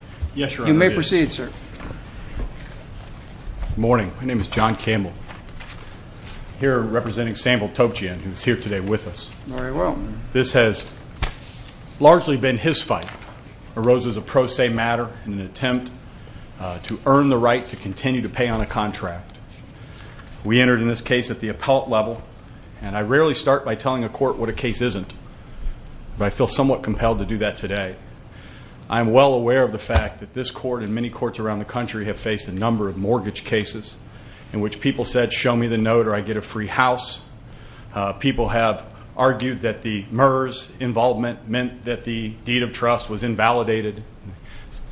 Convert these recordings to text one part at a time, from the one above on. Good morning. My name is John Campbell. I'm here representing Samvel Topchian, who is here today with us. This has largely been his fight. It arose as a pro se matter in an attempt to earn the right to continue to pay on a contract. We entered in this case at the appellate level, and I rarely start by telling a court what a case isn't, but I feel somewhat compelled to do that today. I am well aware of the fact that this court and many courts around the country have faced a number of mortgage cases in which people said, show me the note or I get a free house. People have argued that the MERS involvement meant that the deed of trust was invalidated.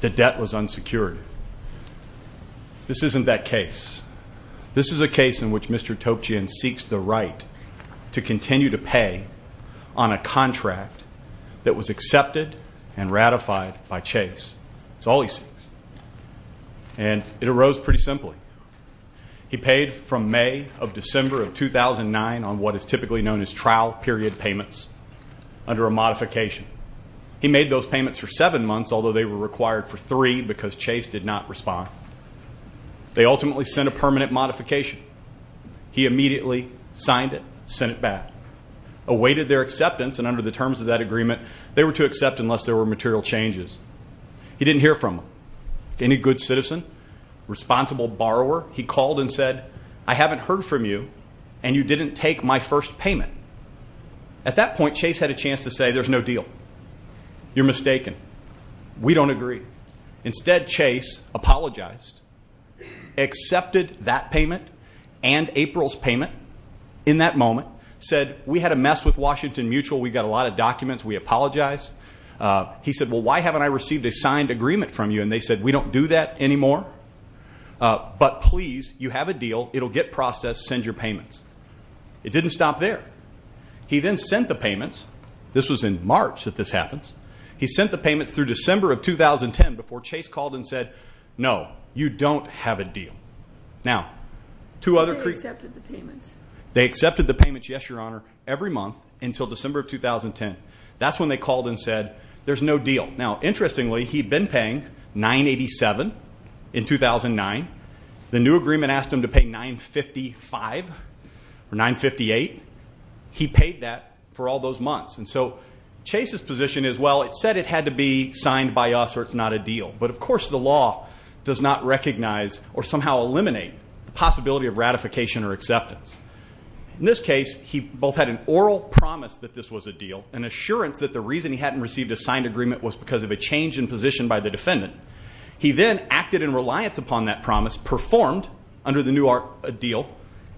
The debt was unsecured. This isn't that case. This is a case in which Mr. Topchian seeks the right to continue to pay on a contract that was accepted and ratified by Chase. It's all he seeks. And it arose pretty simply. He paid from May of December of 2009 on what is typically known as trial period payments under a modification. He made those payments for seven months, although they were required for three because Chase did not respond. They ultimately sent a permanent modification. He immediately signed it, sent it back, awaited their acceptance, and under the terms of that agreement, they were to accept unless there were material changes. He didn't hear from any good citizen, responsible borrower. He called and said, I haven't heard from you, and you didn't take my first payment. At that point, Chase had a chance to say, there's no deal. You're mistaken. We don't agree. Instead, Chase apologized, accepted that payment and April's payment in that moment, said, we had a mess with Washington Mutual. We got a lot of documents. We apologize. He said, well, why haven't I received a signed agreement from you? And they said, we don't do that anymore, but please, you have a deal. It'll get processed. Send your payments. It didn't stop there. He then sent the payments. This was in March that this happens. He sent the payments through December of 2010 before Chase called and said, no, you don't have a deal. Now, two other people. They accepted the payments. They accepted the payments, yes, Your Honor, every month until December of 2010. That's when they called and said, there's no deal. Now, interestingly, he'd been paying $987,000 in 2009. The new agreement asked him to pay $955,000 or $958,000. He paid that for all those months. And so Chase's position is, well, it said it had to be signed by us or it's not a deal. But, of course, the law does not recognize or somehow eliminate the possibility of ratification or acceptance. In this case, he both had an oral promise that this was a deal, an assurance that the reason he hadn't received a signed agreement was because of a change in position by the defendant. He then acted in reliance upon that promise, performed under the new deal,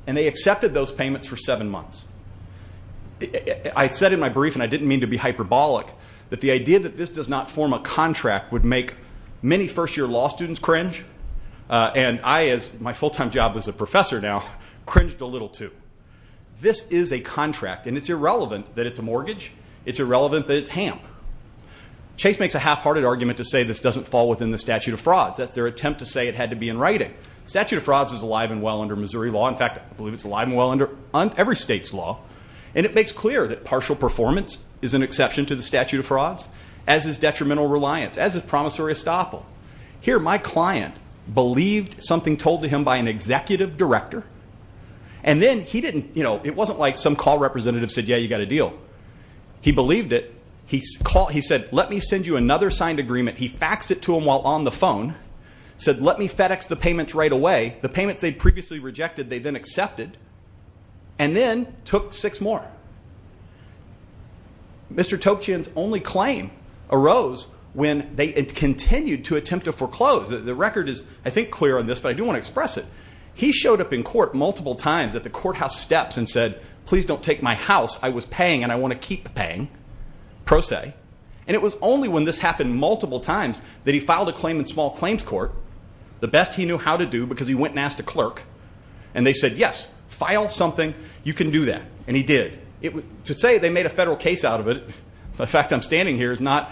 and they accepted those payments for seven months. I said in my brief, and I didn't mean to be hyperbolic, that the idea that this does not form a contract would make many first-year law students cringe. And I, as my full-time job as a professor now, cringed a little too. This is a contract, and it's irrelevant that it's a mortgage. It's irrelevant that it's HAMP. Chase makes a half-hearted argument to say this doesn't fall within the statute of frauds. That's their attempt to say it had to be in writing. The statute of frauds is alive and well under Missouri law. In fact, I believe it's alive and well under every state's law, and it makes clear that partial performance is an exception to the statute of frauds, as is detrimental reliance, as is promissory estoppel. Here, my client believed something told to him by an executive director, and then he didn't, you know, it wasn't like some call representative said, yeah, you got a deal. He believed it. He said, let me send you another signed agreement. He faxed it to him while on the phone, said, let me FedEx the payments right away. The payments they'd previously rejected they then accepted, and then took six more. Mr. Toccian's only claim arose when they continued to attempt to foreclose. The record is, I think, clear on this, but I do want to express it. He showed up in court multiple times at the courthouse steps and said, please don't take my house. I was paying, and I want to keep paying, pro se. And it was only when this happened multiple times that he filed a claim in small claims court, the best he knew how to do because he went and asked a clerk, and they said, yes, file something. You can do that. And he did. To say they made a federal case out of it, the fact I'm standing here, is not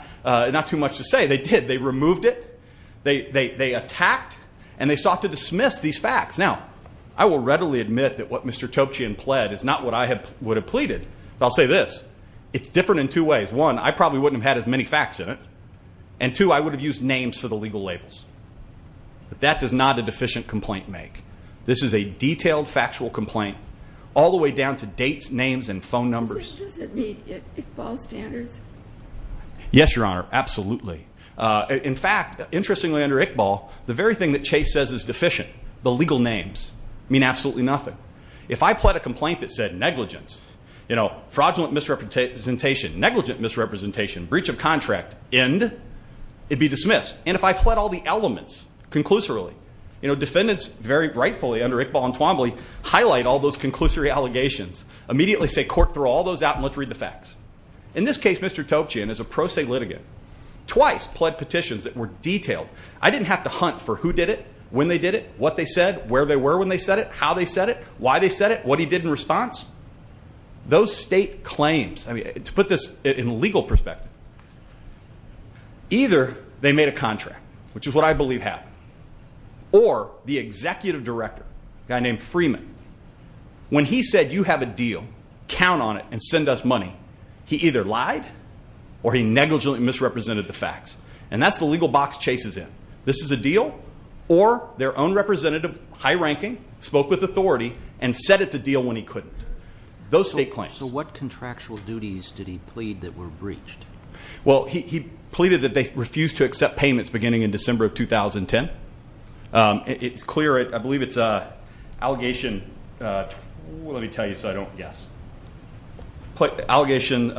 too much to say. They did. They removed it. They attacked, and they sought to dismiss these facts. Now, I will readily admit that what Mr. Toccian pled is not what I would have pleaded. But I'll say this. It's different in two ways. One, I probably wouldn't have had as many facts in it. And two, I would have used names for the legal labels. But that does not a deficient complaint make. This is a detailed factual complaint all the way down to dates, names, and phone numbers. Does it meet Iqbal's standards? Yes, Your Honor. Absolutely. In fact, interestingly under Iqbal, the very thing that Chase says is deficient, the legal names, mean absolutely nothing. If I pled a complaint that said negligence, you know, fraudulent misrepresentation, negligent misrepresentation, breach of contract, end, it'd be dismissed. And if I pled all the elements conclusorily, you know, defendants very rightfully under Iqbal and Twombly highlight all those conclusory allegations, immediately say, court, throw all those out and let's read the facts. In this case, Mr. Toccian is a pro se litigant. Twice pled petitions that were detailed. I didn't have to hunt for who did it, when they did it, what they said, where they were when they said it, how they said it, why they said it, what he did in response. Those state claims, I mean, to put this in legal perspective, either they made a contract, which is what I believe happened, or the executive director, a guy named Freeman, when he said you have a deal, count on it and send us money, he either lied or he negligently misrepresented the facts. And that's the legal box Chase is in. This is a deal or their own representative, high ranking, spoke with authority and said it's a deal when he couldn't. Those state claims. So what contractual duties did he plead that were breached? Well, he pleaded that they refused to accept payments beginning in December of 2010. It's clear, I believe it's an allegation, let me tell you so I don't guess. Allegation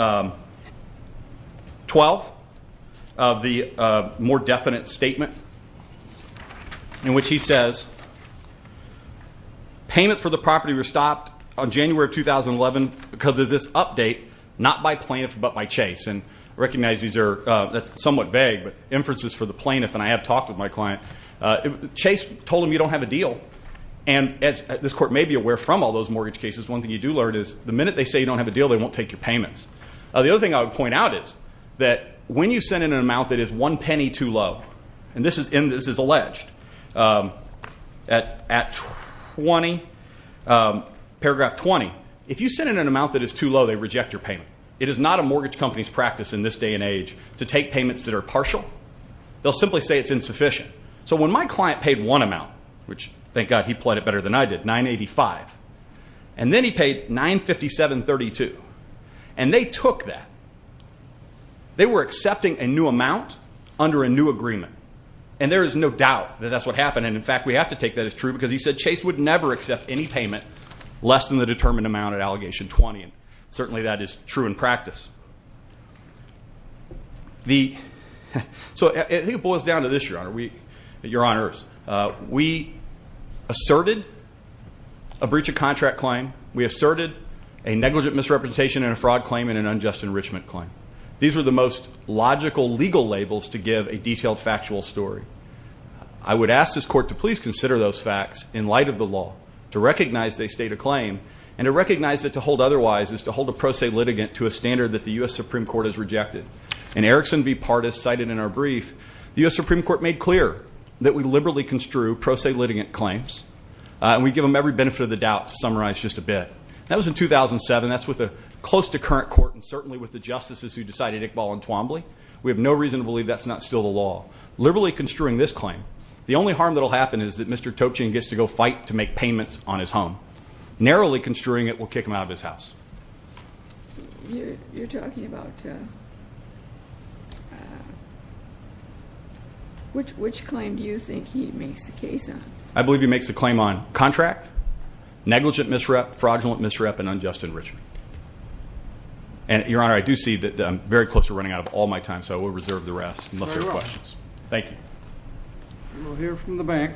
12 of the more definite statement, in which he says, payment for the property was stopped on January of 2011 because of this update, not by plaintiff but by Chase. And recognize these are somewhat vague, but inferences for the plaintiff, and I have talked with my client. Chase told him you don't have a deal, and as this court may be aware from all those mortgage cases, one thing you do learn is the minute they say you don't have a deal, they won't take your payments. The other thing I would point out is that when you send in an amount that is one penny too low, and this is alleged, at 20, paragraph 20, if you send in an amount that is too low, they reject your payment. It is not a mortgage company's practice in this day and age to take payments that are partial. They'll simply say it's insufficient. So when my client paid one amount, which thank God he pled it better than I did, 985, and then he paid 957.32, and they took that, they were accepting a new amount under a new agreement. And there is no doubt that that's what happened, and in fact we have to take that as true, because he said Chase would never accept any payment less than the determined amount at allegation 20, So I think it boils down to this, Your Honor. We asserted a breach of contract claim. We asserted a negligent misrepresentation and a fraud claim and an unjust enrichment claim. These were the most logical legal labels to give a detailed factual story. I would ask this court to please consider those facts in light of the law, to recognize they state a claim, and to recognize that to hold otherwise is to hold a pro se litigant to a standard that the U.S. Supreme Court has rejected. In Erickson v. Pardis, cited in our brief, the U.S. Supreme Court made clear that we liberally construe pro se litigant claims, and we give them every benefit of the doubt to summarize just a bit. That was in 2007. That's with a close to current court, and certainly with the justices who decided Iqbal and Twombly. We have no reason to believe that's not still the law. Liberally construing this claim, the only harm that will happen is that Mr. Topchin gets to go fight to make payments on his home. Narrowly construing it will kick him out of his house. You're talking about which claim do you think he makes the case on? I believe he makes the claim on contract, negligent misrep, fraudulent misrep, and unjust enrichment. And, Your Honor, I do see that I'm very close to running out of all my time, so I will reserve the rest unless there are questions. Thank you. We will hear from the bank.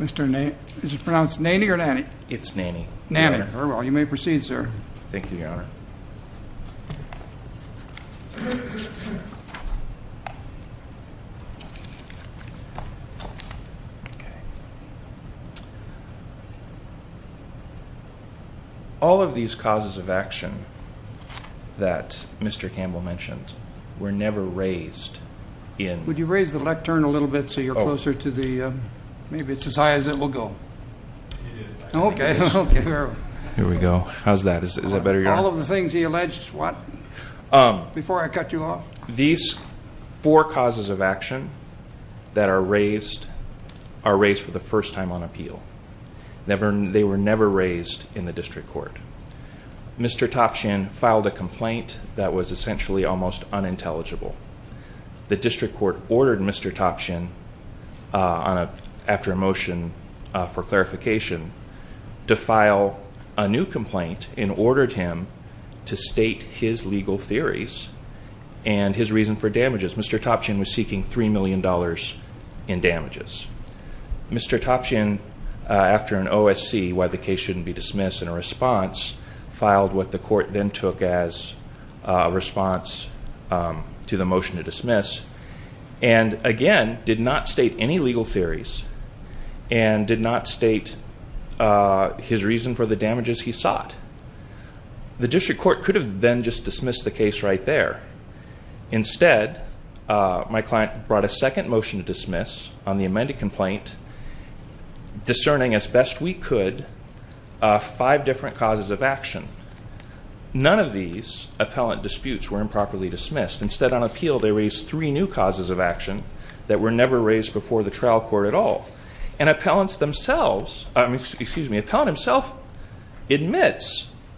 Mr. Naney. Is it pronounced Naney or Naney? It's Naney. Naney. Very well. You may proceed, sir. Thank you, Your Honor. All of these causes of action that Mr. Campbell mentioned were never raised in- Would you raise the lectern a little bit so you're closer to the-maybe it's as high as it will go. It is. Okay. Here we go. How's that? Is that better, Your Honor? All of the things he alleged, what, before I cut you off? These four causes of action that are raised are raised for the first time on appeal. They were never raised in the district court. Mr. Topchin filed a complaint that was essentially almost unintelligible. The district court ordered Mr. Topchin after a motion for clarification to file a new complaint and ordered him to state his legal theories and his reason for damages. Mr. Topchin was seeking $3 million in damages. Mr. Topchin, after an OSC, why the case shouldn't be dismissed, in a response, filed what the court then took as a response to the motion to dismiss and, again, did not state any legal theories and did not state his reason for the damages he sought. The district court could have then just dismissed the case right there. Instead, my client brought a second motion to dismiss on the amended complaint, discerning as best we could five different causes of action. None of these appellant disputes were improperly dismissed. Instead, on appeal, they raised three new causes of action that were never raised before the trial court at all. An appellant himself admits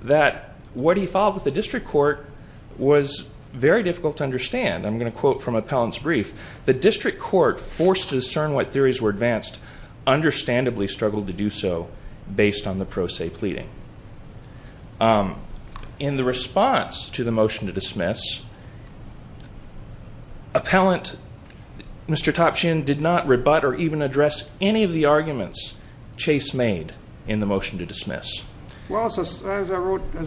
that what he filed with the district court was very difficult to understand. I'm going to quote from an appellant's brief. The district court, forced to discern what theories were advanced, understandably struggled to do so based on the pro se pleading. In the response to the motion to dismiss, appellant Mr. Topchin did not rebut or even address any of the arguments Chase made in the motion to dismiss. Well, as I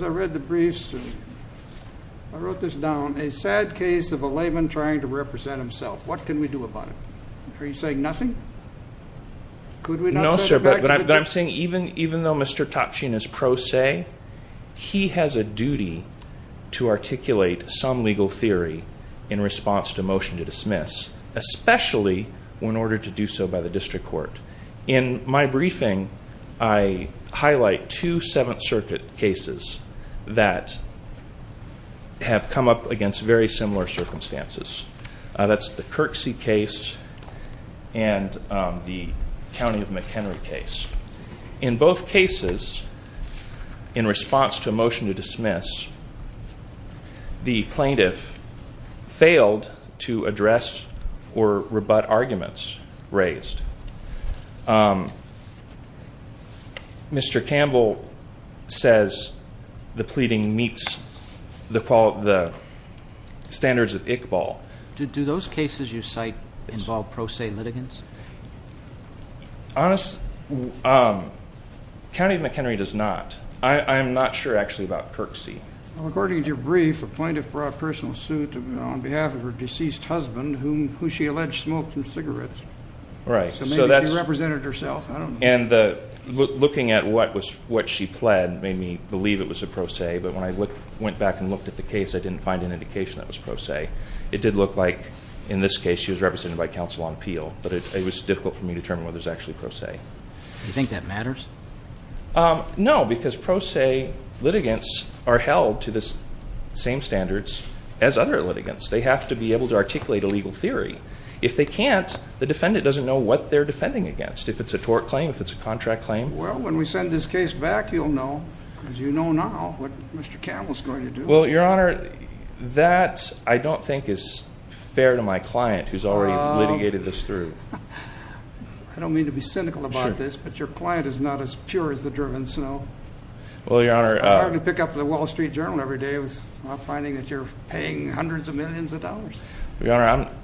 read the briefs, I wrote this down. A sad case of a layman trying to represent himself. What can we do about it? Are you saying nothing? No, sir, but I'm saying even though Mr. Topchin is pro se, he has a duty to articulate some legal theory in response to a motion to dismiss, especially in order to do so by the district court. In my briefing, I highlight two Seventh Circuit cases that have come up against very similar circumstances. That's the Kirksey case and the County of McHenry case. In both cases, in response to a motion to dismiss, the plaintiff failed to address or rebut arguments raised. Mr. Campbell says the pleading meets the standards of Iqbal. Do those cases you cite involve pro se litigants? County of McHenry does not. I am not sure actually about Kirksey. According to your brief, a plaintiff brought personal suit on behalf of her deceased husband, who she alleged smoked some cigarettes. So maybe she represented herself. And looking at what she pled made me believe it was a pro se, but when I went back and looked at the case, I didn't find an indication that it was pro se. It did look like in this case she was represented by counsel on appeal, but it was difficult for me to determine whether it was actually pro se. Do you think that matters? No, because pro se litigants are held to the same standards as other litigants. They have to be able to articulate a legal theory. If they can't, the defendant doesn't know what they're defending against, if it's a tort claim, if it's a contract claim. Well, when we send this case back, you'll know, because you know now what Mr. Campbell is going to do. Well, Your Honor, that I don't think is fair to my client, who's already litigated this through. I don't mean to be cynical about this, but your client is not as pure as the driven snow. It's hard to pick up the Wall Street Journal every day finding that you're paying hundreds of millions of dollars. Your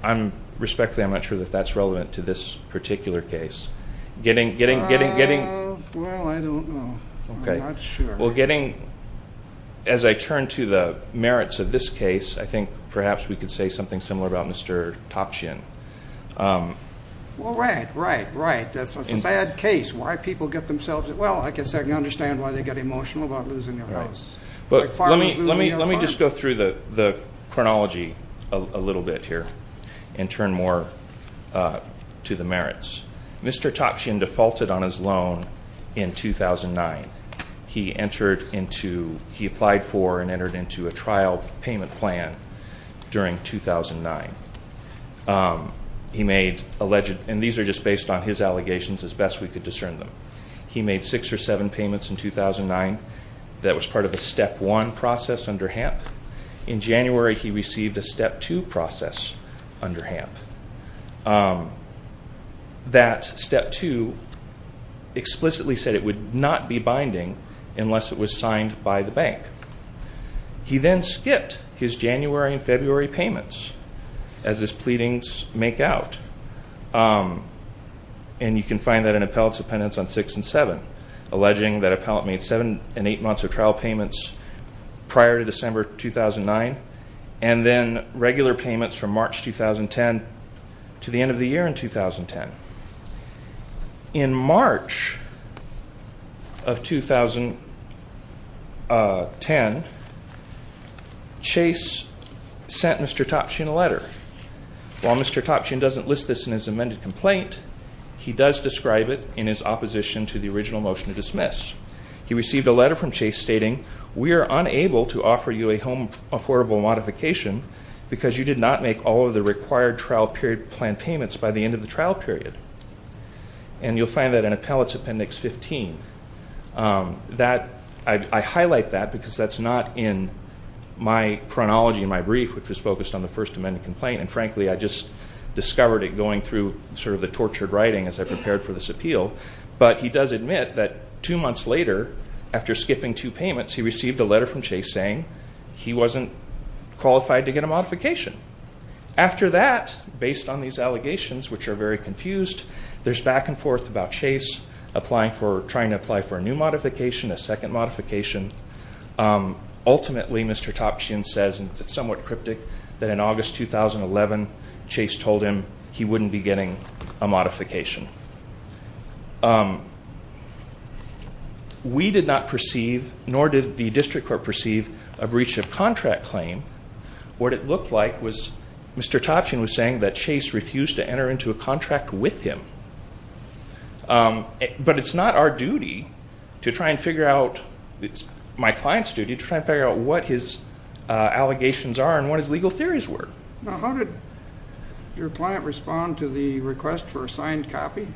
Honor, respectfully, I'm not sure that that's relevant to this particular case. Well, I don't know. I'm not sure. Well, getting, as I turn to the merits of this case, I think perhaps we could say something similar about Mr. Topshian. Well, right, right, right. That's a bad case. Why people get themselves, well, I guess I can understand why they get emotional about losing their homes. Let me just go through the chronology a little bit here and turn more to the merits. Mr. Topshian defaulted on his loan in 2009. He entered into, he applied for and entered into a trial payment plan during 2009. He made alleged, and these are just based on his allegations as best we could discern them. He made six or seven payments in 2009. That was part of the step one process under HAMP. In January, he received a step two process under HAMP. That step two explicitly said it would not be binding unless it was signed by the bank. He then skipped his January and February payments as his pleadings make out. And you can find that in appellate's appendix on six and seven, alleging that appellate made seven and eight months of trial payments prior to December 2009 and then regular payments from March 2010 to the end of the year in 2010. In March of 2010, Chase sent Mr. Topshian a letter. While Mr. Topshian doesn't list this in his amended complaint, he does describe it in his opposition to the original motion to dismiss. He received a letter from Chase stating, we are unable to offer you a home affordable modification because you did not make all of the required trial period plan payments by the end of the trial period. And you'll find that in appellate's appendix 15. I highlight that because that's not in my chronology in my brief, which was focused on the first amended complaint. And frankly, I just discovered it going through sort of the tortured writing as I prepared for this appeal. But he does admit that two months later, after skipping two payments, he received a letter from Chase saying he wasn't qualified to get a modification. After that, based on these allegations, which are very confused, there's back and forth about Chase trying to apply for a new modification, a second modification. Ultimately, Mr. Topshian says, and it's somewhat cryptic, that in August 2011, Chase told him he wouldn't be getting a modification. We did not perceive, nor did the district court perceive, a breach of contract claim. What it looked like was Mr. Topshian was saying that Chase refused to enter into a contract with him. But it's not our duty to try and figure out, it's my client's duty, to try and figure out what his allegations are and what his legal theories were. Now, how did your client respond to the request for a signed copy?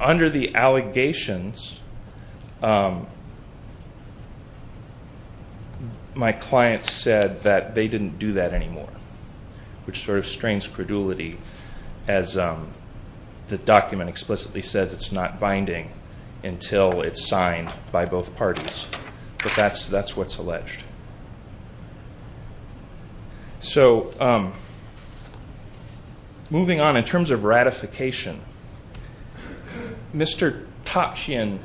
Under the allegations, my client said that they didn't do that anymore, which sort of strains credulity as the document explicitly says it's not binding until it's signed by both parties. But that's what's alleged. So moving on, in terms of ratification, Mr. Topshian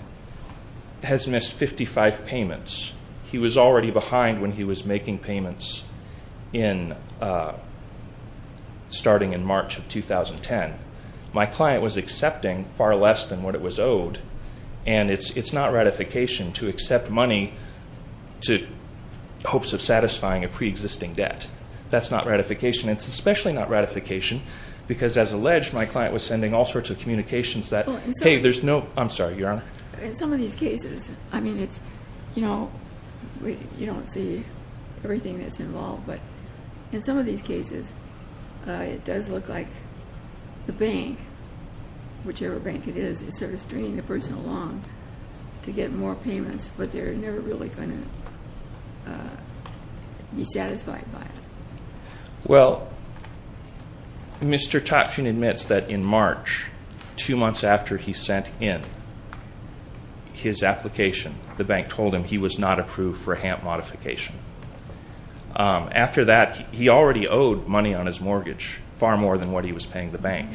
has missed 55 payments. He was already behind when he was making payments starting in March of 2010. My client was accepting far less than what it was owed, and it's not ratification to accept money in hopes of satisfying a preexisting debt. That's not ratification. It's especially not ratification because, as alleged, my client was sending all sorts of communications that, hey, there's no, I'm sorry, Your Honor. In some of these cases, I mean, it's, you know, you don't see everything that's involved, but in some of these cases, it does look like the bank, whichever bank it is, is sort of stringing the person along to get more payments, but they're never really going to be satisfied by it. Well, Mr. Topshian admits that in March, two months after he sent in his application, the bank told him he was not approved for a HAMP modification. After that, he already owed money on his mortgage, far more than what he was paying the bank.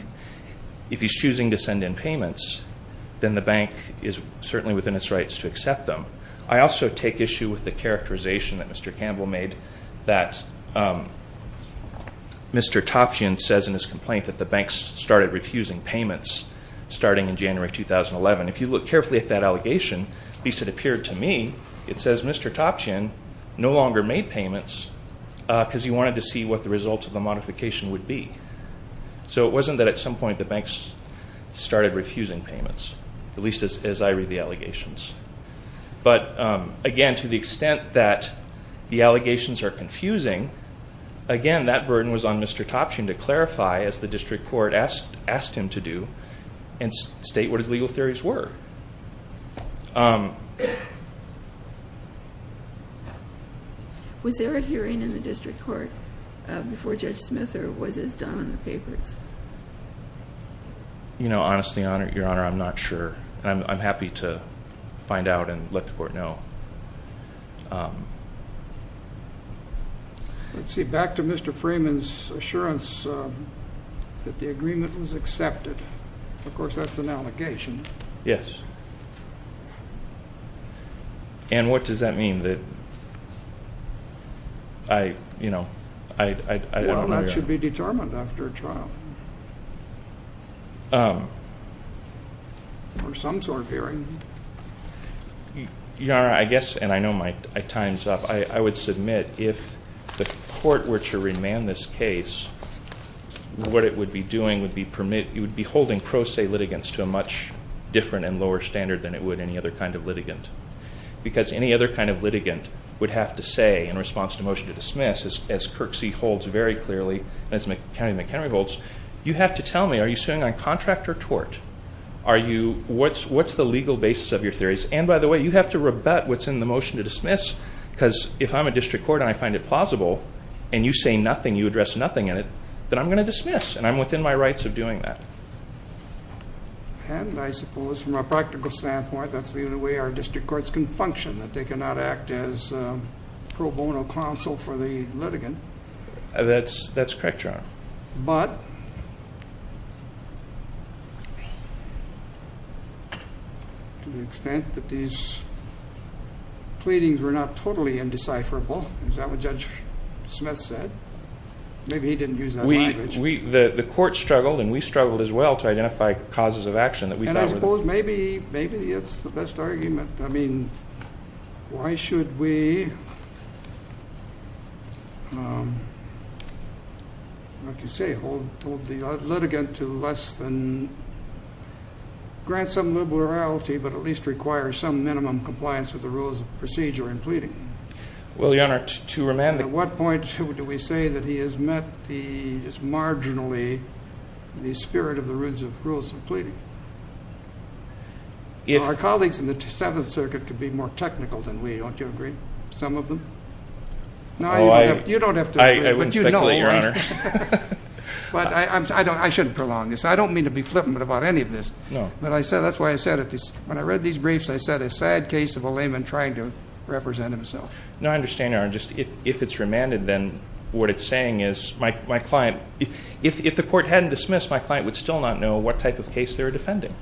If he's choosing to send in payments, then the bank is certainly within its rights to accept them. I also take issue with the characterization that Mr. Campbell made, that Mr. Topshian says in his complaint that the banks started refusing payments starting in January 2011. If you look carefully at that allegation, at least it appeared to me, it says Mr. Topshian no longer made payments because he wanted to see what the results of the modification would be. So it wasn't that at some point the banks started refusing payments, at least as I read the allegations. But again, to the extent that the allegations are confusing, again, that burden was on Mr. Topshian to clarify, as the district court asked him to do, and state what his legal theories were. Was there a hearing in the district court before Judge Smith or was this done on the papers? Honestly, Your Honor, I'm not sure. I'm happy to find out and let the court know. Let's see. Back to Mr. Freeman's assurance that the agreement was accepted. Of course, that's an allegation. Yes. And what does that mean? Well, that should be determined after a trial or some sort of hearing. Your Honor, I guess, and I know my time's up, I would submit if the court were to remand this case, what it would be doing would be holding pro se litigants to a much different and lower standard than it would any other kind of litigant. Because any other kind of litigant would have to say in response to a motion to dismiss, as Kirksey holds very clearly and as McHenry holds, you have to tell me, are you suing on contract or tort? What's the legal basis of your theories? And, by the way, you have to rebut what's in the motion to dismiss because if I'm a district court and I find it plausible and you say nothing, you address nothing in it, then I'm going to dismiss and I'm within my rights of doing that. And I suppose from a practical standpoint, that's the only way our district courts can function, that they cannot act as pro bono counsel for the litigant. That's correct, Your Honor. But to the extent that these pleadings were not totally indecipherable, is that what Judge Smith said? Maybe he didn't use that language. The court struggled and we struggled as well to identify causes of action that we thought were the best. And I suppose maybe it's the best argument. I mean, why should we, like you say, hold the litigant to less than grant some liberality but at least require some minimum compliance with the rules of procedure in pleading? Well, Your Honor, to remand the… At what point do we say that he has met the, just marginally, the spirit of the rules of pleading? Our colleagues in the Seventh Circuit could be more technical than we, don't you agree, some of them? No, you don't have to agree, but you know me. I wouldn't speculate, Your Honor. But I shouldn't prolong this. I don't mean to be flippant about any of this. No. But that's why I said it. When I read these briefs, I said a sad case of a layman trying to represent himself. No, I understand, Your Honor. Just if it's remanded, then what it's saying is my client, if the court hadn't dismissed, my client would still not know what type of case they were defending.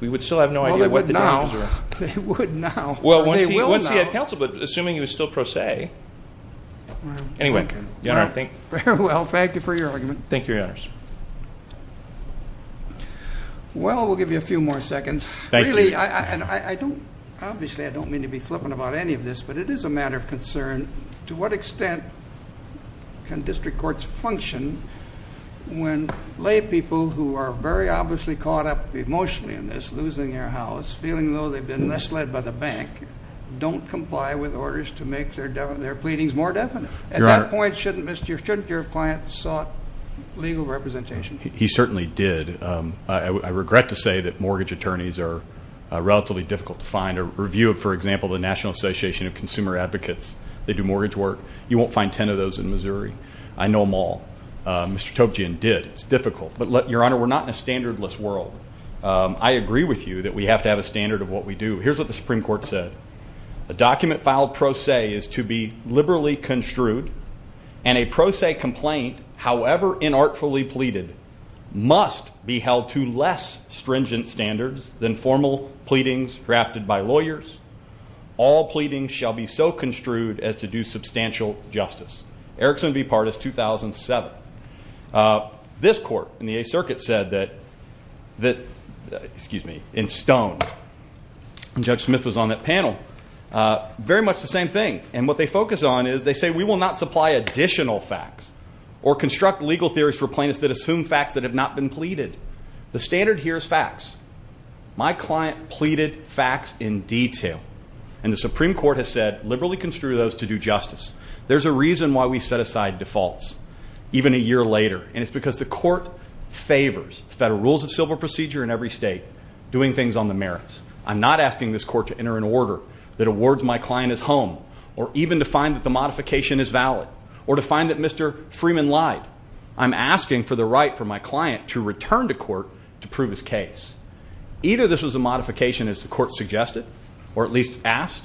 We would still have no idea what the charges were. Well, they would now. They would now. Well, once he had counseled, but assuming he was still pro se. Anyway, Your Honor, I think… Very well. Thank you for your argument. Well, we'll give you a few more seconds. Thank you. Obviously, I don't mean to be flippant about any of this, but it is a matter of concern to what extent can district courts function when lay people who are very obviously caught up emotionally in this, losing their house, feeling though they've been misled by the bank, don't comply with orders to make their pleadings more definite. At that point, shouldn't your client have sought legal representation? He certainly did. I regret to say that mortgage attorneys are relatively difficult to find. A review of, for example, the National Association of Consumer Advocates, they do mortgage work. You won't find 10 of those in Missouri. I know them all. Mr. Topchian did. It's difficult. But, Your Honor, we're not in a standardless world. I agree with you that we have to have a standard of what we do. Here's what the Supreme Court said. A document filed pro se is to be liberally construed, and a pro se complaint, however inartfully pleaded, must be held to less stringent standards than formal pleadings drafted by lawyers. All pleadings shall be so construed as to do substantial justice. Eric Sundby Partis, 2007. This court in the Eighth Circuit said that, excuse me, in Stone, Judge Smith was on that panel, very much the same thing. And what they focus on is they say we will not supply additional facts or construct legal theories for plaintiffs that assume facts that have not been pleaded. The standard here is facts. My client pleaded facts in detail, and the Supreme Court has said liberally construe those to do justice. There's a reason why we set aside defaults, even a year later, and it's because the court favors federal rules of civil procedure in every state, doing things on the merits. I'm not asking this court to enter an order that awards my client as home, or even to find that the modification is valid, or to find that Mr. Freeman lied. I'm asking for the right for my client to return to court to prove his case. Either this was a modification, as the court suggested, or at least asked,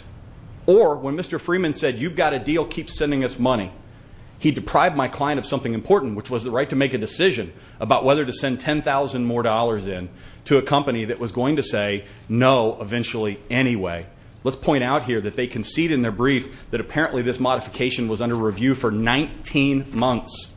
or when Mr. Freeman said you've got a deal, keep sending us money, he deprived my client of something important, which was the right to make a decision about whether to send $10,000 more in to a company that was going to say no eventually anyway. Let's point out here that they concede in their brief that apparently this modification was under review for 19 months.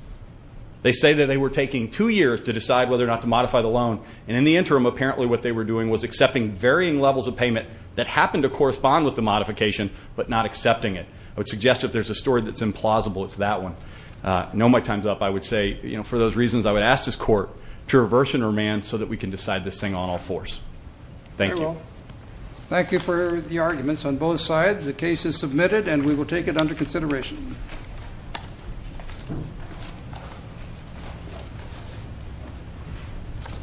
They say that they were taking two years to decide whether or not to modify the loan, and in the interim, apparently what they were doing was accepting varying levels of payment that happened to correspond with the modification, but not accepting it. I would suggest if there's a story that's implausible, it's that one. I know my time's up. I would say, for those reasons, I would ask this court to reverse and remand so that we can decide this thing on all fours. Thank you. Thank you for the arguments on both sides. The case is submitted, and we will take it under consideration.